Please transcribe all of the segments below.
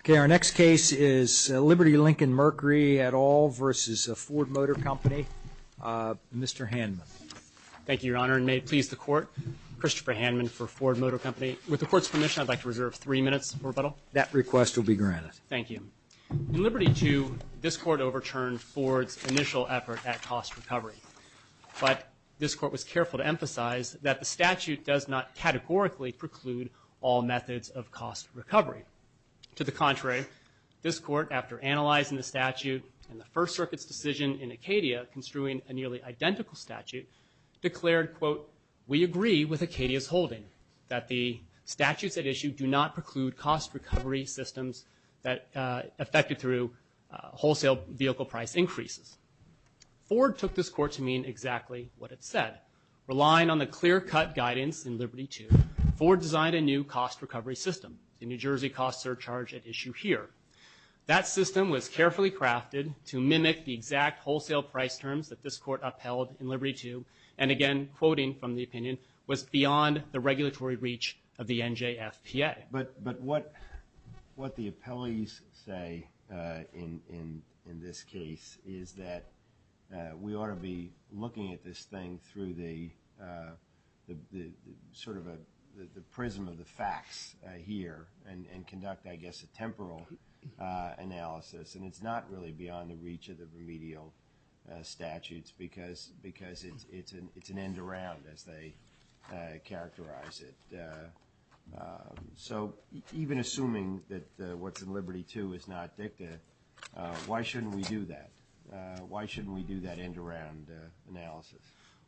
Okay, our next case is Liberty Lincoln-Mercury, Etal VFord Motor Company, Mr. Hanman. Thank you, Your Honor, and may it please the Court. Christopher Hanman for Ford Motor Company. With the Court's permission, I'd like to reserve three minutes for rebuttal. That request will be granted. Thank you. In Liberty II, this Court overturned Ford's initial effort at cost recovery. But this Court was careful to emphasize that the statute does not categorically preclude all methods of cost recovery. To the contrary, this Court, after analyzing the statute and the First Circuit's decision in Acadia, construing a nearly identical statute, declared, quote, we agree with Acadia's holding that the statutes at issue do not preclude cost recovery systems that affected through wholesale vehicle price increases. Ford took this Court to mean exactly what it said. Relying on the clear-cut guidance in Liberty II, Ford designed a new cost recovery system. The New Jersey cost surcharge at issue here. That system was carefully crafted to mimic the exact wholesale price terms that this Court upheld in Liberty II, and again, quoting from the opinion, was beyond the regulatory reach of the NJFPA. But what the appellees say in this case is that we ought to be looking at this thing through the sort of the prism of the facts here and conduct, I guess, a temporal analysis. And it's not really beyond the reach of the remedial statutes because it's an end-around, as they characterize it. So even assuming that what's in Liberty II is not dicta, why shouldn't we do that?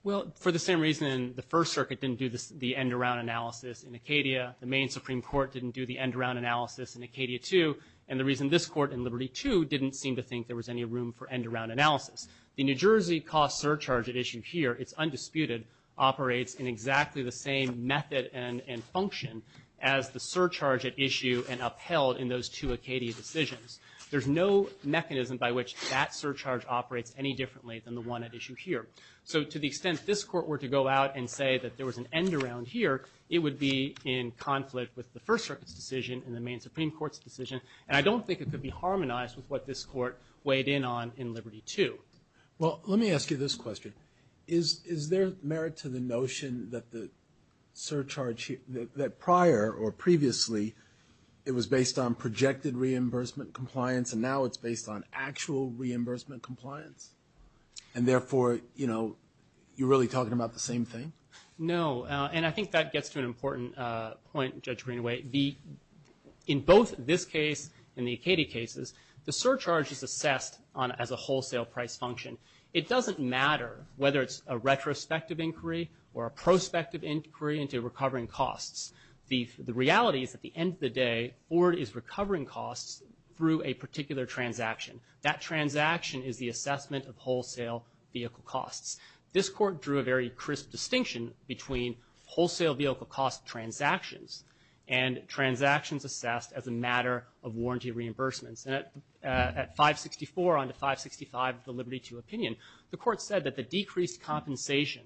Well, for the same reason the First Circuit didn't do the end-around analysis in Acadia, the Maine Supreme Court didn't do the end-around analysis in Acadia II, and the reason this Court in Liberty II didn't seem to think there was any room for end-around analysis. The New Jersey cost surcharge at issue here, it's undisputed, operates in exactly the same method and function as the surcharge at issue and upheld in those two Acadia decisions. There's no mechanism by which that surcharge operates any differently than the one at issue here. So to the extent this Court were to go out and say that there was an end-around here, it would be in conflict with the First Circuit's decision and the Maine Supreme Court's decision, and I don't think it could be harmonized with what this Court weighed in on in Liberty II. Well, let me ask you this question. Is there merit to the notion that the surcharge, that prior or previously it was based on projected reimbursement compliance and now it's based on actual reimbursement compliance, and therefore, you know, you're really talking about the same thing? No, and I think that gets to an important point, Judge Greenaway. In both this case and the Acadia cases, the surcharge is assessed as a wholesale price function. It doesn't matter whether it's a retrospective inquiry or a prospective inquiry into recovering costs. The reality is at the end of the day, Ford is recovering costs through a particular transaction. That transaction is the assessment of wholesale vehicle costs. This Court drew a very crisp distinction between wholesale vehicle cost transactions and transactions assessed as a matter of warranty reimbursements. And at 564 on to 565 of the Liberty II opinion, the Court said that the decreased compensation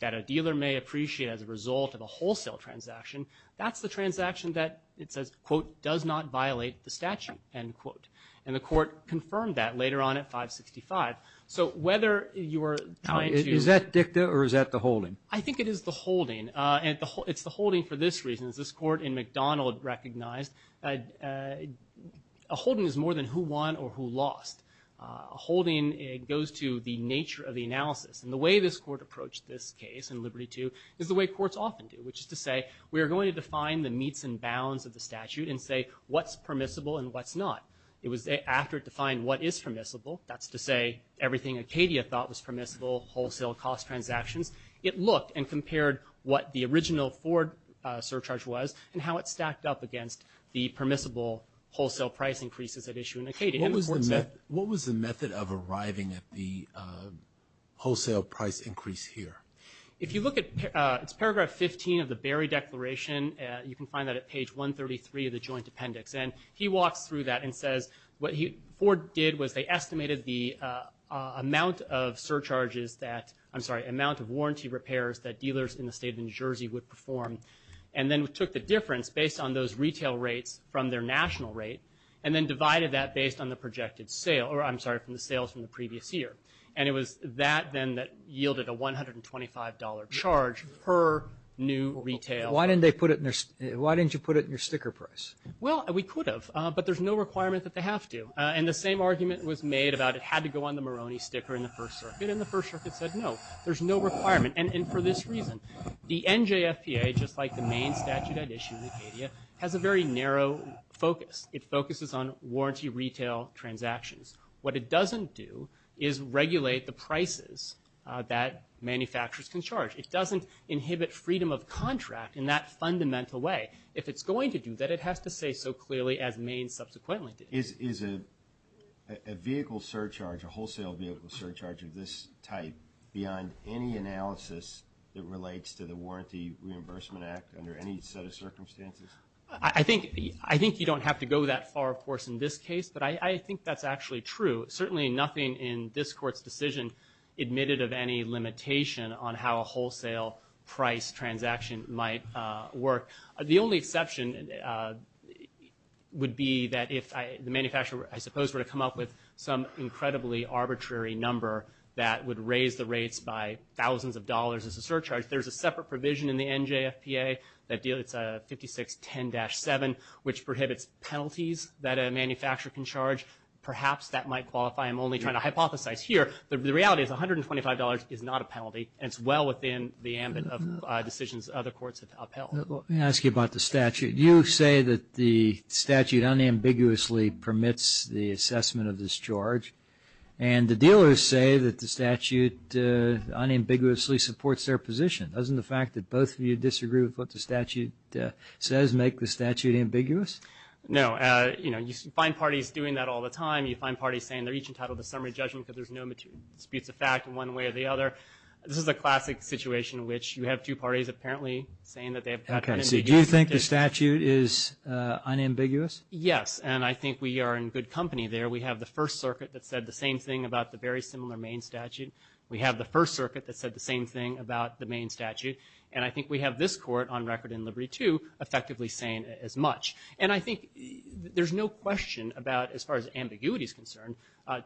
that a dealer may appreciate as a result of a wholesale transaction, that's the transaction that it says, quote, does not violate the statute, end quote. And the Court confirmed that later on at 565. So whether you are trying to – Is that dicta or is that the holding? I think it is the holding, and it's the holding for this reason. As this Court in McDonald recognized, a holding is more than who won or who lost. A holding goes to the nature of the analysis. And the way this Court approached this case in Liberty II is the way courts often do, which is to say we are going to define the meets and bounds of the statute and say what's permissible and what's not. It was after it defined what is permissible, that's to say everything Acadia thought was permissible, wholesale cost transactions, it looked and compared what the original Ford surcharge was and how it stacked up against the permissible wholesale price increases at issue in Acadia. What was the method of arriving at the wholesale price increase here? If you look at – it's paragraph 15 of the Berry Declaration. You can find that at page 133 of the Joint Appendix. And he walks through that and says what Ford did was they estimated the amount of surcharges that – I'm sorry, amount of warranty repairs that dealers in the state of New Jersey would perform and then took the difference based on those retail rates from their national rate and then divided that based on the projected sale – or I'm sorry, from the sales from the previous year. And it was that then that yielded a $125 charge per new retail. Why didn't they put it – why didn't you put it in your sticker price? Well, we could have, but there's no requirement that they have to. And the same argument was made about it had to go on the Moroni sticker in the First Circuit, and the First Circuit said no, there's no requirement. And for this reason, the NJFPA, just like the Maine statute at issue in Acadia, has a very narrow focus. It focuses on warranty retail transactions. What it doesn't do is regulate the prices that manufacturers can charge. It doesn't inhibit freedom of contract in that fundamental way. If it's going to do that, it has to say so clearly as Maine subsequently did. Is a vehicle surcharge, a wholesale vehicle surcharge of this type, beyond any analysis that relates to the Warranty Reimbursement Act under any set of circumstances? I think you don't have to go that far, of course, in this case, but I think that's actually true. Certainly nothing in this Court's decision admitted of any limitation on how a wholesale price transaction might work. The only exception would be that if the manufacturer, I suppose, were to come up with some incredibly arbitrary number that would raise the rates by thousands of dollars as a surcharge. There's a separate provision in the NJFPA that deals with 5610-7, which prohibits penalties that a manufacturer can charge. Perhaps that might qualify. I'm only trying to hypothesize here. The reality is $125 is not a penalty, and it's well within the ambit of decisions other courts have upheld. Let me ask you about the statute. You say that the statute unambiguously permits the assessment of this charge, and the dealers say that the statute unambiguously supports their position. Doesn't the fact that both of you disagree with what the statute says make the statute ambiguous? No. You know, you find parties doing that all the time. You find parties saying they're each entitled to summary judgment because there's no disputes of fact in one way or the other. This is a classic situation in which you have two parties apparently saying that they have patent indignities. Do you think the statute is unambiguous? Yes, and I think we are in good company there. We have the First Circuit that said the same thing about the very similar Maine statute. We have the First Circuit that said the same thing about the Maine statute, and I think we have this court on record in Liberty II effectively saying as much. And I think there's no question about, as far as ambiguity is concerned,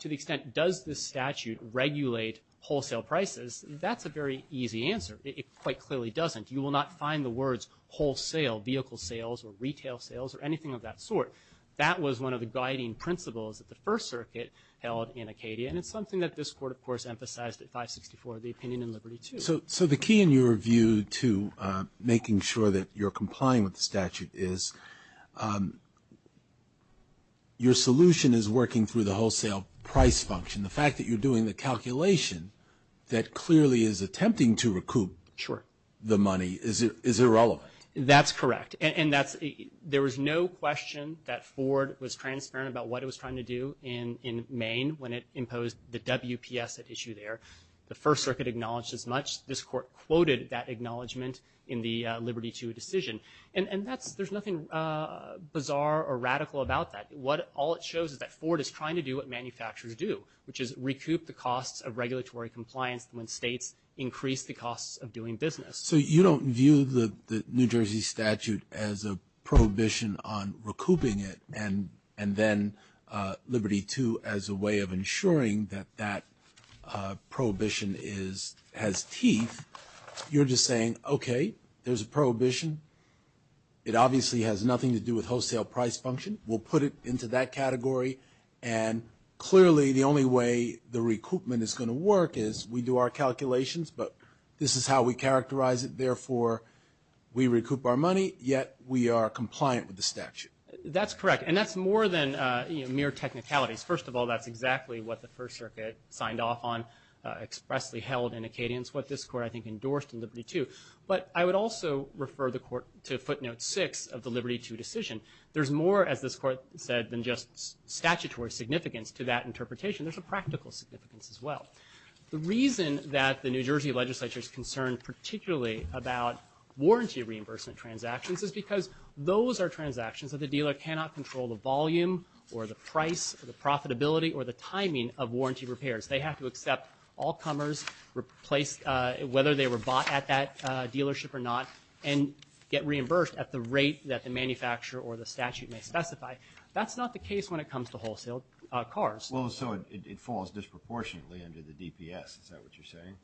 to the extent does this statute regulate wholesale prices, that's a very easy answer. It quite clearly doesn't. You will not find the words wholesale, vehicle sales, or retail sales, or anything of that sort. That was one of the guiding principles that the First Circuit held in Acadia, and it's something that this court, of course, emphasized at 564, the opinion in Liberty II. So the key in your view to making sure that you're complying with the statute is your solution is working through the wholesale price function. The fact that you're doing the calculation that clearly is attempting to recoup the money is irrelevant. That's correct. And there was no question that Ford was transparent about what it was trying to do in Maine when it imposed the WPS at issue there. The First Circuit acknowledged as much. This court quoted that acknowledgement in the Liberty II decision. And there's nothing bizarre or radical about that. All it shows is that Ford is trying to do what manufacturers do, which is recoup the costs of regulatory compliance when states increase the costs of doing business. So you don't view the New Jersey statute as a prohibition on recouping it, and then Liberty II as a way of ensuring that that prohibition has teeth. You're just saying, okay, there's a prohibition. It obviously has nothing to do with wholesale price function. We'll put it into that category. And clearly the only way the recoupment is going to work is we do our calculations, but this is how we characterize it. Therefore, we recoup our money, yet we are compliant with the statute. That's correct. And that's more than mere technicalities. First of all, that's exactly what the First Circuit signed off on, expressly held in a cadence, what this court, I think, endorsed in Liberty II. But I would also refer the court to footnote six of the Liberty II decision. There's more, as this court said, than just statutory significance to that interpretation. There's a practical significance as well. The reason that the New Jersey legislature is concerned particularly about warranty reimbursement transactions is because those are transactions that the dealer cannot control the volume or the price or the profitability or the timing of warranty repairs. They have to accept all comers, whether they were bought at that dealership or not, and get reimbursed at the rate that the manufacturer or the statute may specify. That's not the case when it comes to wholesale cars. Well, so it falls disproportionately under the DPS. Is that what you're saying?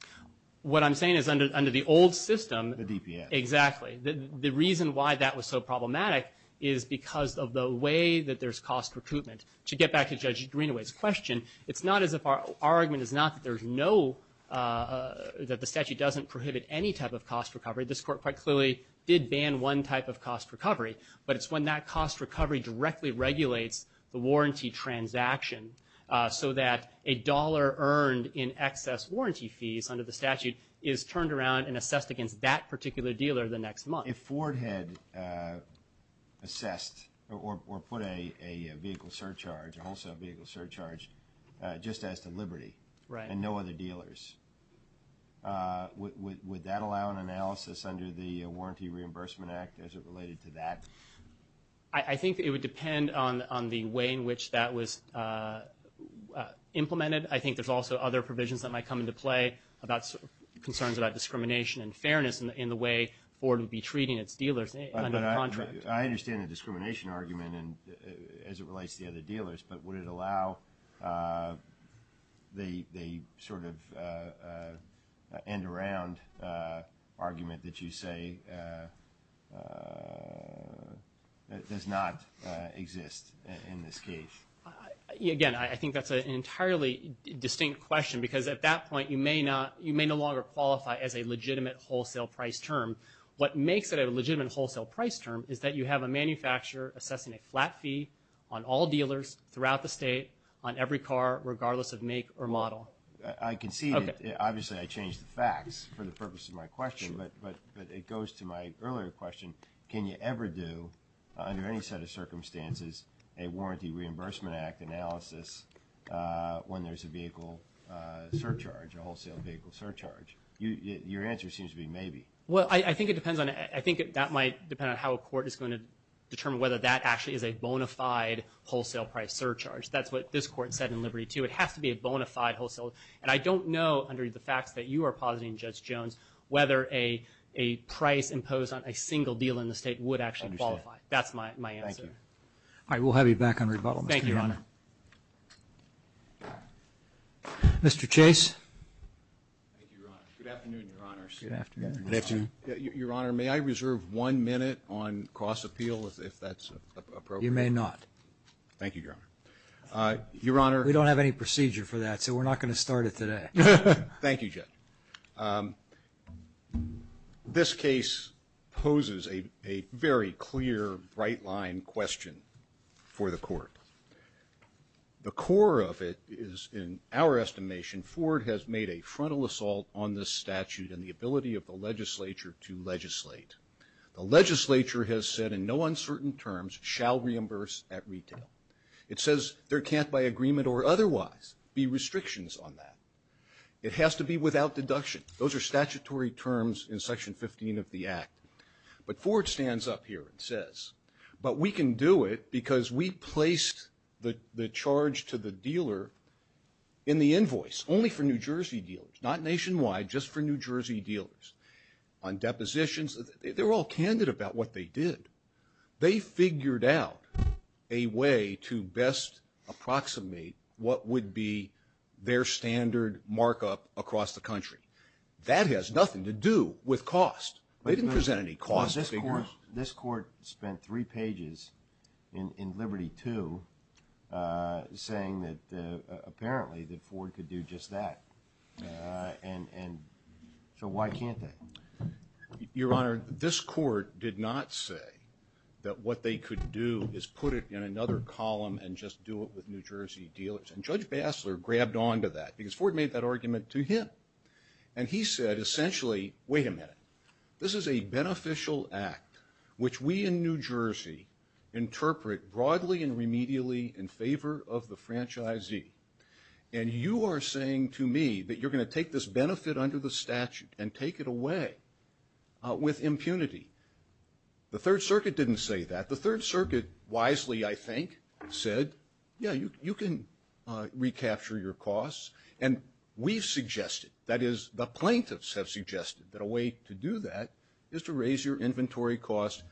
What I'm saying is under the old system. The DPS. Exactly. The reason why that was so problematic is because of the way that there's cost recoupment. To get back to Judge Greenaway's question, it's not as if our argument is not that there's no, that the statute doesn't prohibit any type of cost recovery. This court quite clearly did ban one type of cost recovery, but it's when that cost recovery directly regulates the warranty transaction so that a dollar earned in excess warranty fees under the statute is turned around and assessed against that particular dealer the next month. If Ford had assessed or put a vehicle surcharge, a wholesale vehicle surcharge, just as to Liberty and no other dealers, would that allow an analysis under the Warranty Reimbursement Act as it related to that? I think it would depend on the way in which that was implemented. I think there's also other provisions that might come into play about concerns about discrimination and fairness in the way Ford would be treating its dealers under the contract. I understand the discrimination argument as it relates to the other dealers, but would it allow the sort of end-around argument that you say does not exist in this case? Again, I think that's an entirely distinct question, because at that point you may no longer qualify as a legitimate wholesale price term. What makes it a legitimate wholesale price term is that you have a manufacturer assessing a flat fee on all dealers throughout the state, on every car, regardless of make or model. I can see that. Obviously, I changed the facts for the purpose of my question, but it goes to my earlier question. Can you ever do, under any set of circumstances, a Warranty Reimbursement Act analysis when there's a vehicle surcharge, a wholesale vehicle surcharge? Your answer seems to be maybe. Well, I think it depends on – I think that might depend on how a court is going to determine whether that actually is a bona fide wholesale price surcharge. That's what this Court said in Liberty II. It has to be a bona fide wholesale. And I don't know, under the facts that you are positing, Judge Jones, whether a price imposed on a single deal in the state would actually qualify. I understand. That's my answer. Thank you. All right, we'll have you back on rebuttal, Mr. Chairman. Thank you, Your Honor. Mr. Chase. Thank you, Your Honor. Good afternoon, Your Honors. Good afternoon. Your Honor, may I reserve one minute on cross-appeal, if that's appropriate? You may not. Thank you, Your Honor. Your Honor. We don't have any procedure for that, so we're not going to start it today. Thank you, Judge. This case poses a very clear, bright-line question for the Court. The core of it is, in our estimation, Ford has made a frontal assault on this statute and the ability of the legislature to legislate. The legislature has said, in no uncertain terms, shall reimburse at retail. It says there can't, by agreement or otherwise, be restrictions on that. It has to be without deduction. Those are statutory terms in Section 15 of the Act. But Ford stands up here and says, but we can do it because we placed the charge to the dealer in the invoice, only for New Jersey dealers, not nationwide, just for New Jersey dealers. On depositions, they were all candid about what they did. They figured out a way to best approximate what would be their standard markup across the country. That has nothing to do with cost. They didn't present any cost figures. This Court spent three pages in Liberty II saying that, apparently, that Ford could do just that. So why can't they? Your Honor, this Court did not say that what they could do is put it in another column and just do it with New Jersey dealers. And Judge Bassler grabbed onto that because Ford made that argument to him. And he said, essentially, wait a minute. This is a beneficial act, which we in New Jersey interpret broadly and remedially in favor of the franchisee. And you are saying to me that you're going to take this benefit under the statute and take it away with impunity. The Third Circuit didn't say that. The Third Circuit wisely, I think, said, yeah, you can recapture your costs. And we've suggested, that is the plaintiffs have suggested, that a way to do that is to raise your inventory costs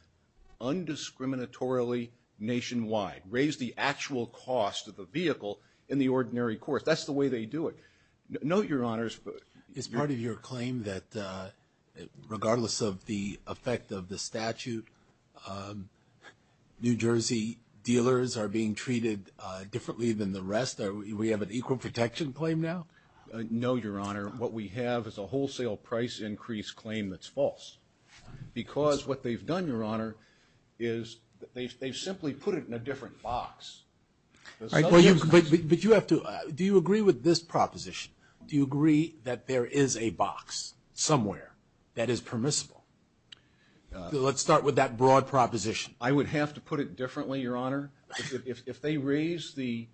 undiscriminatorily nationwide, raise the actual cost of the vehicle in the ordinary course. That's the way they do it. Note, Your Honors, is part of your claim that regardless of the effect of the statute, New Jersey dealers are being treated differently than the rest? Do we have an equal protection claim now? No, Your Honor. What we have is a wholesale price increase claim that's false. Because what they've done, Your Honor, is they've simply put it in a different box. But you have to, do you agree with this proposition? Do you agree that there is a box somewhere that is permissible? Let's start with that broad proposition. I would have to put it differently, Your Honor. If they raise the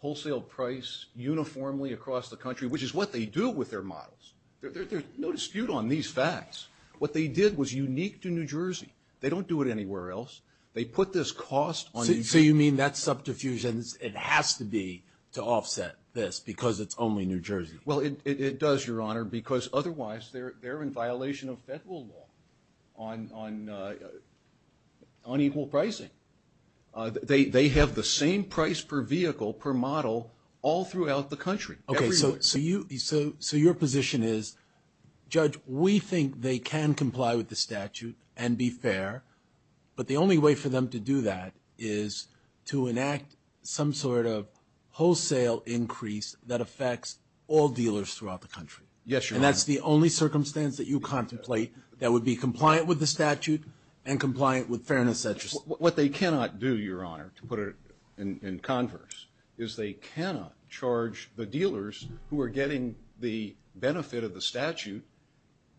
wholesale price uniformly across the country, which is what they do with their models. There's no dispute on these facts. What they did was unique to New Jersey. They don't do it anywhere else. They put this cost on New Jersey. So you mean that subterfuge, it has to be to offset this because it's only New Jersey? Well, it does, Your Honor, because otherwise they're in violation of federal law on equal pricing. They have the same price per vehicle, per model, all throughout the country. Okay, so your position is, Judge, we think they can comply with the statute and be fair, but the only way for them to do that is to enact some sort of wholesale increase that affects all dealers throughout the country. Yes, Your Honor. And that's the only circumstance that you contemplate that would be compliant with the statute and compliant with fairness, et cetera. What they cannot do, Your Honor, to put it in converse, is they cannot charge the dealers who are getting the benefit of the statute,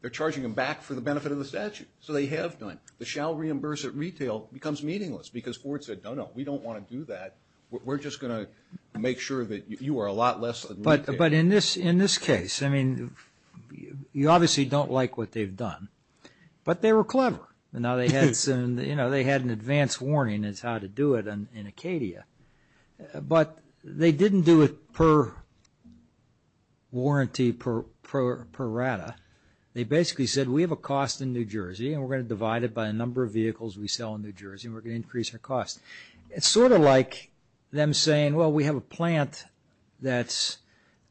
they're charging them back for the benefit of the statute. So they have done it. The shall reimburse at retail becomes meaningless because Ford said, no, no, we don't want to do that. We're just going to make sure that you are a lot less than retail. But in this case, I mean, you obviously don't like what they've done, but they were clever. You know, they had an advance warning as to how to do it in Acadia, but they didn't do it per warranty, per RADA. They basically said, we have a cost in New Jersey and we're going to divide it by the number of vehicles we sell in New Jersey and we're going to increase our cost. It's sort of like them saying, well, we have a plant that's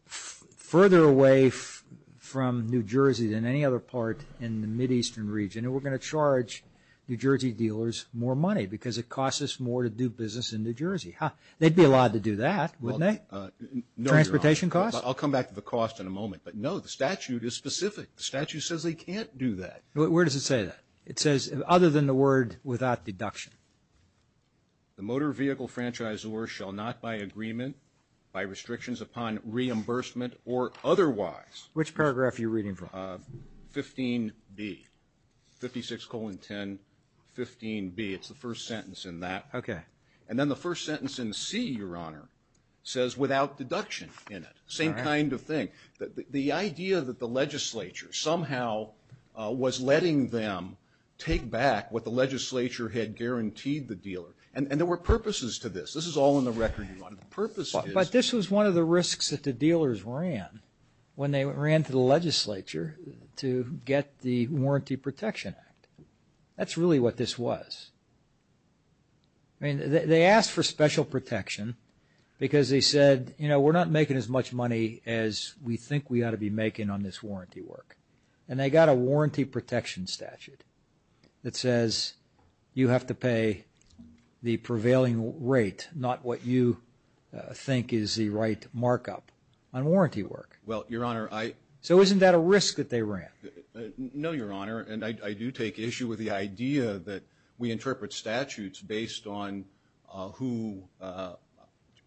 further away from New Jersey than any other part in the Mideastern region and we're going to charge New Jersey dealers more money because it costs us more to do business in New Jersey. They'd be allowed to do that, wouldn't they? Transportation costs? I'll come back to the cost in a moment. But, no, the statute is specific. The statute says they can't do that. Where does it say that? It says, other than the word without deduction. The motor vehicle franchisor shall not, by agreement, by restrictions upon reimbursement or otherwise. Which paragraph are you reading from? 15B, 56 colon 10, 15B. It's the first sentence in that. And then the first sentence in C, Your Honor, says without deduction in it. Same kind of thing. The idea that the legislature somehow was letting them take back what the legislature had guaranteed the dealer. And there were purposes to this. This is all in the record, Your Honor. But this was one of the risks that the dealers ran when they ran to the legislature to get the Warranty Protection Act. That's really what this was. I mean, they asked for special protection because they said, you know, we're not making as much money as we think we ought to be making on this warranty work. And they got a warranty protection statute that says you have to pay the prevailing rate, not what you think is the right markup on warranty work. Well, Your Honor, I. So isn't that a risk that they ran? No, Your Honor. And I do take issue with the idea that we interpret statutes based on who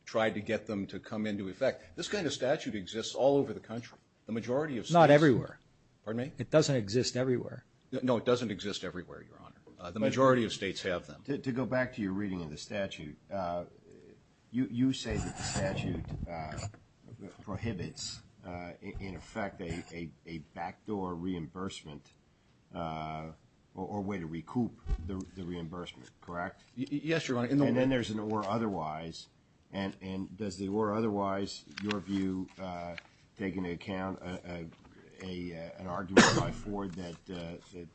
tried to get them to come into effect. This kind of statute exists all over the country. The majority of states. Not everywhere. Pardon me? It doesn't exist everywhere. No, it doesn't exist everywhere, Your Honor. The majority of states have them. To go back to your reading of the statute, you say that the statute prohibits, in effect, a backdoor reimbursement or a way to recoup the reimbursement, correct? Yes, Your Honor. And then there's an or otherwise. And does the or otherwise, your view, take into account an argument by Ford that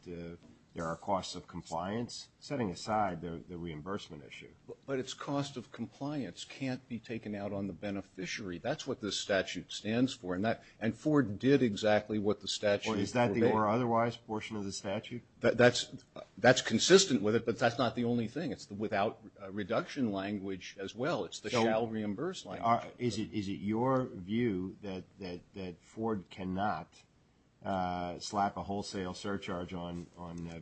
there are costs of compliance? Setting aside the reimbursement issue. But its cost of compliance can't be taken out on the beneficiary. That's what this statute stands for. And Ford did exactly what the statute forbade. Is that the or otherwise portion of the statute? That's consistent with it, but that's not the only thing. It's the without reduction language as well. It's the shall reimburse language. Is it your view that Ford cannot slap a wholesale surcharge on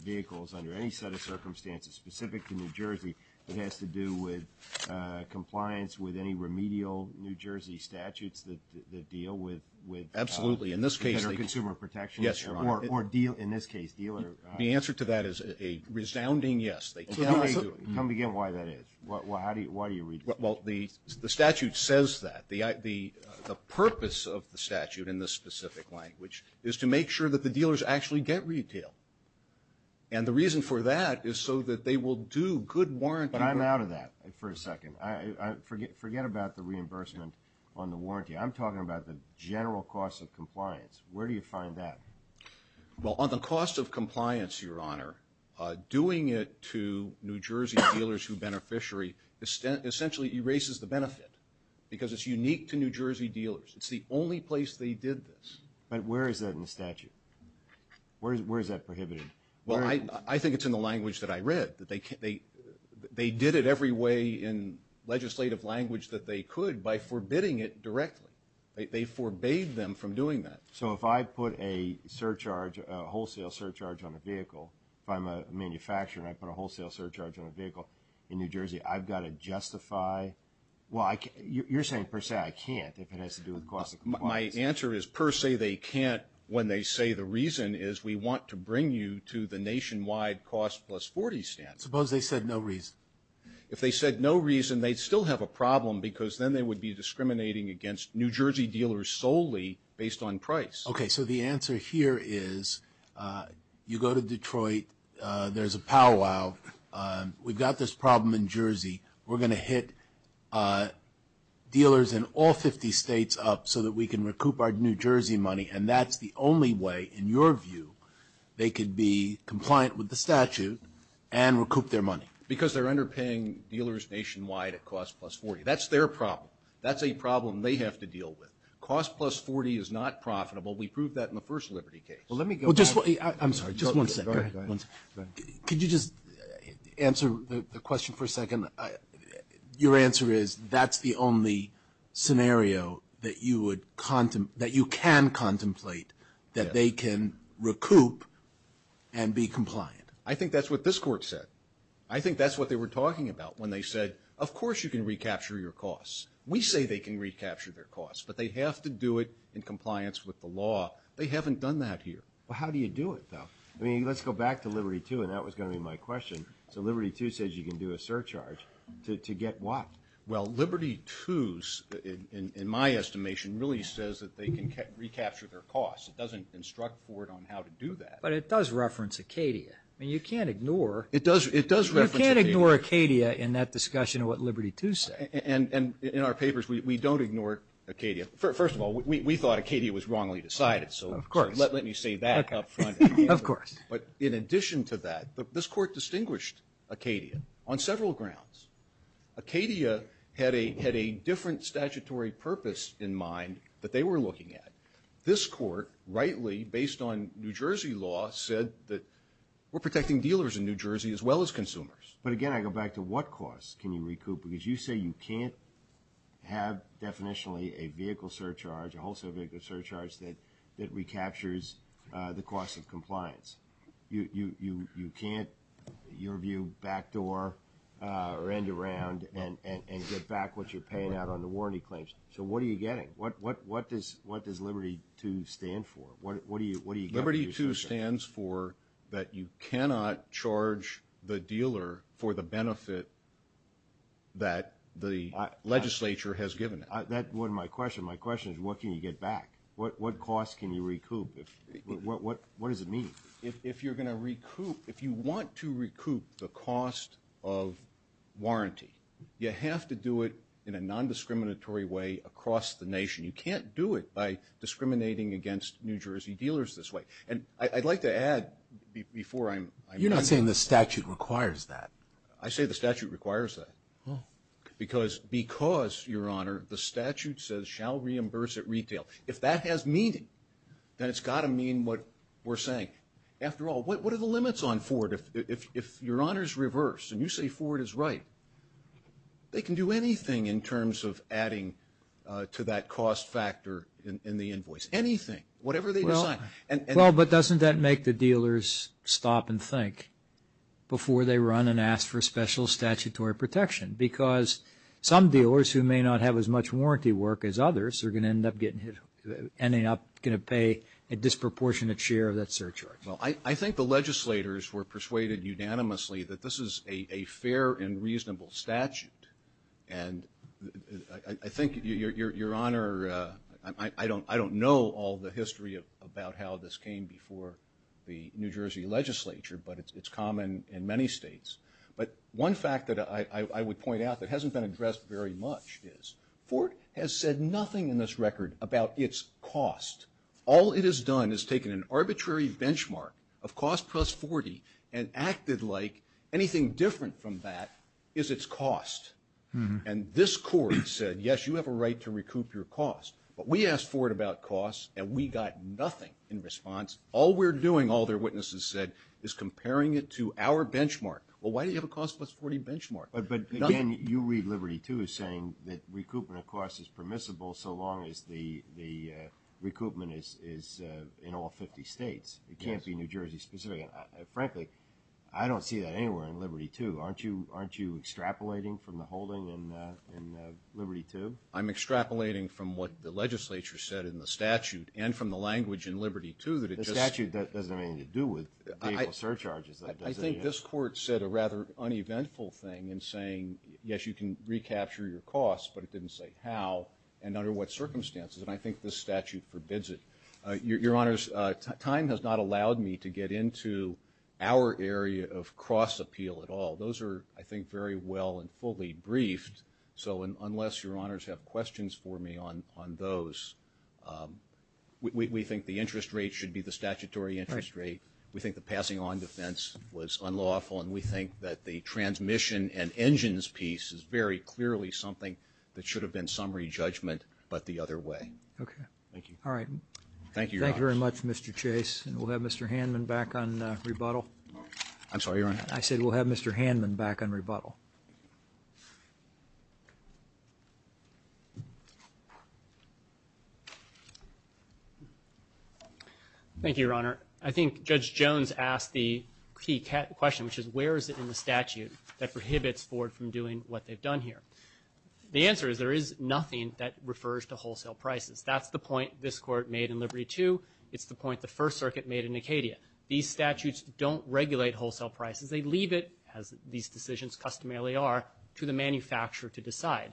vehicles under any set of circumstances, specific to New Jersey that has to do with compliance with any remedial New Jersey statutes that deal with consumer protection? Yes, Your Honor. In this case, dealer. The answer to that is a resounding yes. Tell me again why that is. Why do you read the statute? Well, the statute says that. The purpose of the statute in this specific language is to make sure that the dealers actually get retail. And the reason for that is so that they will do good warranty. But I'm out of that for a second. Forget about the reimbursement on the warranty. I'm talking about the general cost of compliance. Where do you find that? Well, on the cost of compliance, Your Honor, doing it to New Jersey dealers who are beneficiary essentially erases the benefit because it's unique to New Jersey dealers. It's the only place they did this. But where is that in the statute? Where is that prohibited? Well, I think it's in the language that I read. They did it every way in legislative language that they could by forbidding it directly. They forbade them from doing that. So if I put a surcharge, a wholesale surcharge on a vehicle, if I'm a manufacturer and I put a wholesale surcharge on a vehicle in New Jersey, I've got to justify? Well, you're saying per se I can't if it has to do with the cost of compliance. My answer is per se they can't when they say the reason is we want to bring you to the nationwide cost plus 40 stance. Suppose they said no reason. If they said no reason, they'd still have a problem because then they would be discriminating against New Jersey dealers solely based on price. Okay, so the answer here is you go to Detroit. There's a powwow. We've got this problem in Jersey. We're going to hit dealers in all 50 states up so that we can recoup our New Jersey money, and that's the only way, in your view, they could be compliant with the statute and recoup their money. Because they're underpaying dealers nationwide at cost plus 40. That's their problem. That's a problem they have to deal with. Cost plus 40 is not profitable. We proved that in the first Liberty case. Well, let me go back. I'm sorry, just one second. Go ahead. Could you just answer the question for a second? Your answer is that's the only scenario that you can contemplate that they can recoup and be compliant. I think that's what this Court said. I think that's what they were talking about when they said, of course you can recapture your costs. We say they can recapture their costs, but they have to do it in compliance with the law. They haven't done that here. Well, how do you do it, though? I mean, let's go back to Liberty II, and that was going to be my question. So Liberty II says you can do a surcharge to get what? Well, Liberty II's, in my estimation, really says that they can recapture their costs. It doesn't instruct Ford on how to do that. But it does reference Acadia. I mean, you can't ignore. It does reference Acadia. You can't ignore Acadia in that discussion of what Liberty II said. And in our papers, we don't ignore Acadia. First of all, we thought Acadia was wrongly decided, so let me say that up front. Of course. But in addition to that, this Court distinguished Acadia on several grounds. Acadia had a different statutory purpose in mind that they were looking at. This Court rightly, based on New Jersey law, said that we're protecting dealers in New Jersey as well as consumers. But again, I go back to what costs can you recoup? Because you say you can't have, definitionally, a vehicle surcharge, a wholesale vehicle surcharge that recaptures the cost of compliance. You can't, in your view, backdoor or end around and get back what you're paying out on the warranty claims. So what are you getting? What does Liberty II stand for? Liberty II stands for that you cannot charge the dealer for the benefit that the legislature has given it. That wasn't my question. My question is what can you get back? What costs can you recoup? What does it mean? If you're going to recoup, if you want to recoup the cost of warranty, you have to do it in a non-discriminatory way across the nation. You can't do it by discriminating against New Jersey dealers this way. And I'd like to add before I'm done. You're not saying the statute requires that. I say the statute requires that because, Your Honor, the statute says shall reimburse at retail. If that has meaning, then it's got to mean what we're saying. After all, what are the limits on Ford? If Your Honor's reverse and you say Ford is right, they can do anything in terms of adding to that cost factor in the invoice, anything. Whatever they decide. Well, but doesn't that make the dealers stop and think before they run and ask for special statutory protection? Because some dealers who may not have as much warranty work as others are going to end up getting hit, ending up going to pay a disproportionate share of that surcharge. Well, I think the legislators were persuaded unanimously that this is a fair and reasonable statute. And I think, Your Honor, I don't know all the history about how this came before the New Jersey legislature, but it's common in many states. But one fact that I would point out that hasn't been addressed very much is Ford has said nothing in this record about its cost. All it has done is taken an arbitrary benchmark of cost plus 40 and acted like anything different from that is its cost. And this court said, yes, you have a right to recoup your cost. But we asked Ford about cost and we got nothing in response. All we're doing, all their witnesses said, is comparing it to our benchmark. Well, why do you have a cost plus 40 benchmark? But, again, you read Liberty II as saying that recoupment of costs is permissible so long as the recoupment is in all 50 states. It can't be New Jersey specific. Frankly, I don't see that anywhere in Liberty II. Aren't you extrapolating from the holding in Liberty II? I'm extrapolating from what the legislature said in the statute and from the language in Liberty II that it just – The statute doesn't have anything to do with vehicle surcharges, though, does it? I think this court said a rather uneventful thing in saying, yes, you can recapture your costs, but it didn't say how and under what circumstances, and I think this statute forbids it. Your Honors, time has not allowed me to get into our area of cross-appeal at all. Those are, I think, very well and fully briefed. So unless Your Honors have questions for me on those, we think the interest rate should be the statutory interest rate. We think the passing on defense was unlawful, and we think that the transmission and engines piece is very clearly something that should have been summary judgment but the other way. Okay. Thank you. All right. Thank you, Your Honors. Thank you very much, Mr. Chase, and we'll have Mr. Handman back on rebuttal. I'm sorry, Your Honor. I said we'll have Mr. Handman back on rebuttal. Thank you, Your Honor. I think Judge Jones asked the key question, which is where is it in the statute that prohibits Ford from doing what they've done here? The answer is there is nothing that refers to wholesale prices. That's the point this Court made in Liberty II. It's the point the First Circuit made in Acadia. These statutes don't regulate wholesale prices. They leave it, as these decisions customarily are, to the manufacturer to decide.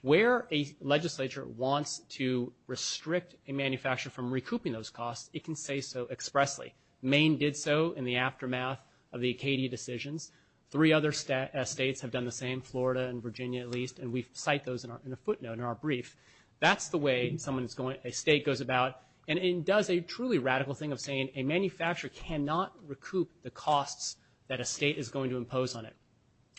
Where a legislature wants to restrict a manufacturer from recouping those costs, it can say so expressly. Maine did so in the aftermath of the Acadia decisions. Three other states have done the same, Florida and Virginia at least, and we cite those in a footnote in our brief. That's the way a state goes about and does a truly radical thing of saying a manufacturer cannot recoup the costs that a state is going to impose on it.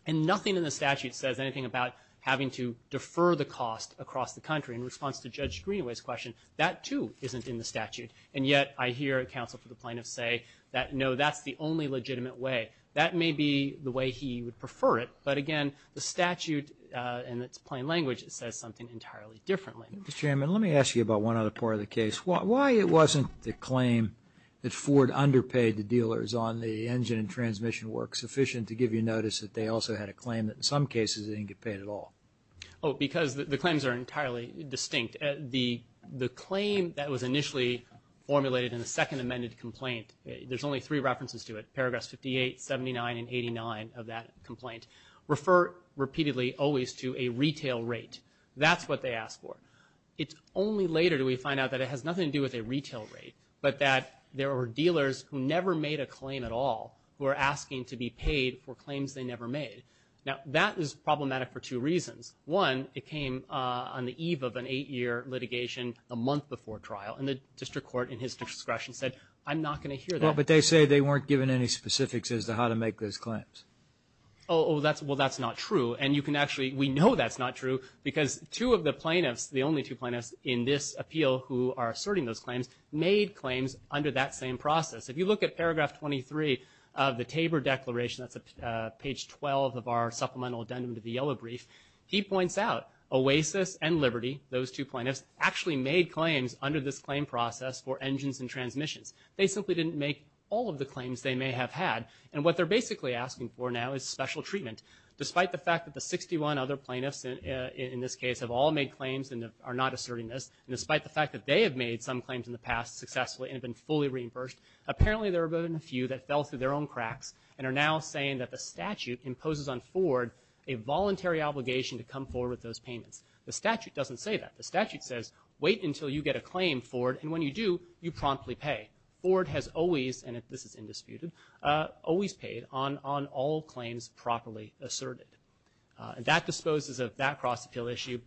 And nothing in the statute says anything about having to defer the cost across the country. In response to Judge Greenaway's question, that, too, isn't in the statute. And yet I hear counsel for the plaintiffs say that, no, that's the only legitimate way. That may be the way he would prefer it, but, again, the statute in its plain language says something entirely differently. Mr. Chairman, let me ask you about one other part of the case. Why it wasn't the claim that Ford underpaid the dealers on the engine and transmission work sufficient to give you notice that they also had a claim that in some cases they didn't get paid at all? Oh, because the claims are entirely distinct. The claim that was initially formulated in the second amended complaint, there's only three references to it, paragraphs 58, 79, and 89 of that complaint, refer repeatedly always to a retail rate. That's what they asked for. It's only later do we find out that it has nothing to do with a retail rate, but that there were dealers who never made a claim at all who are asking to be paid for claims they never made. Now, that is problematic for two reasons. One, it came on the eve of an eight-year litigation a month before trial, and the district court, in his discretion, said, I'm not going to hear that. Well, but they say they weren't given any specifics as to how to make those claims. Oh, well, that's not true. And you can actually, we know that's not true because two of the plaintiffs, the only two plaintiffs in this appeal who are asserting those claims, made claims under that same process. If you look at paragraph 23 of the Tabor Declaration, that's page 12 of our supplemental addendum to the yellow brief, he points out Oasis and Liberty, those two plaintiffs, actually made claims under this claim process for engines and transmissions. They simply didn't make all of the claims they may have had. And what they're basically asking for now is special treatment. Despite the fact that the 61 other plaintiffs in this case have all made claims and are not asserting this, and despite the fact that they have made some claims in the past successfully and have been fully reimbursed, apparently there have been a few that fell through their own cracks and are now saying that the statute imposes on Ford a voluntary obligation to come forward with those payments. The statute doesn't say that. The statute says, wait until you get a claim, Ford, and when you do, you promptly pay. Ford has always, and this is indisputed, always paid on all claims properly asserted. And that disposes of that cross-appeal issue.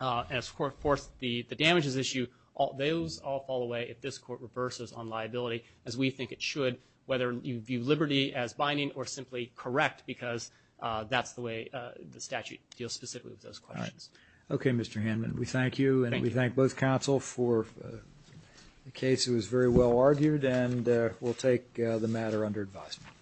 And, of course, the damages issue, those all fall away if this Court reverses on liability, as we think it should, whether you view Liberty as binding or simply correct, because that's the way the statute deals specifically with those questions. Okay, Mr. Hanlon, we thank you, and we thank both counsel for the case. It was very well argued, and we'll take the matter under advisement.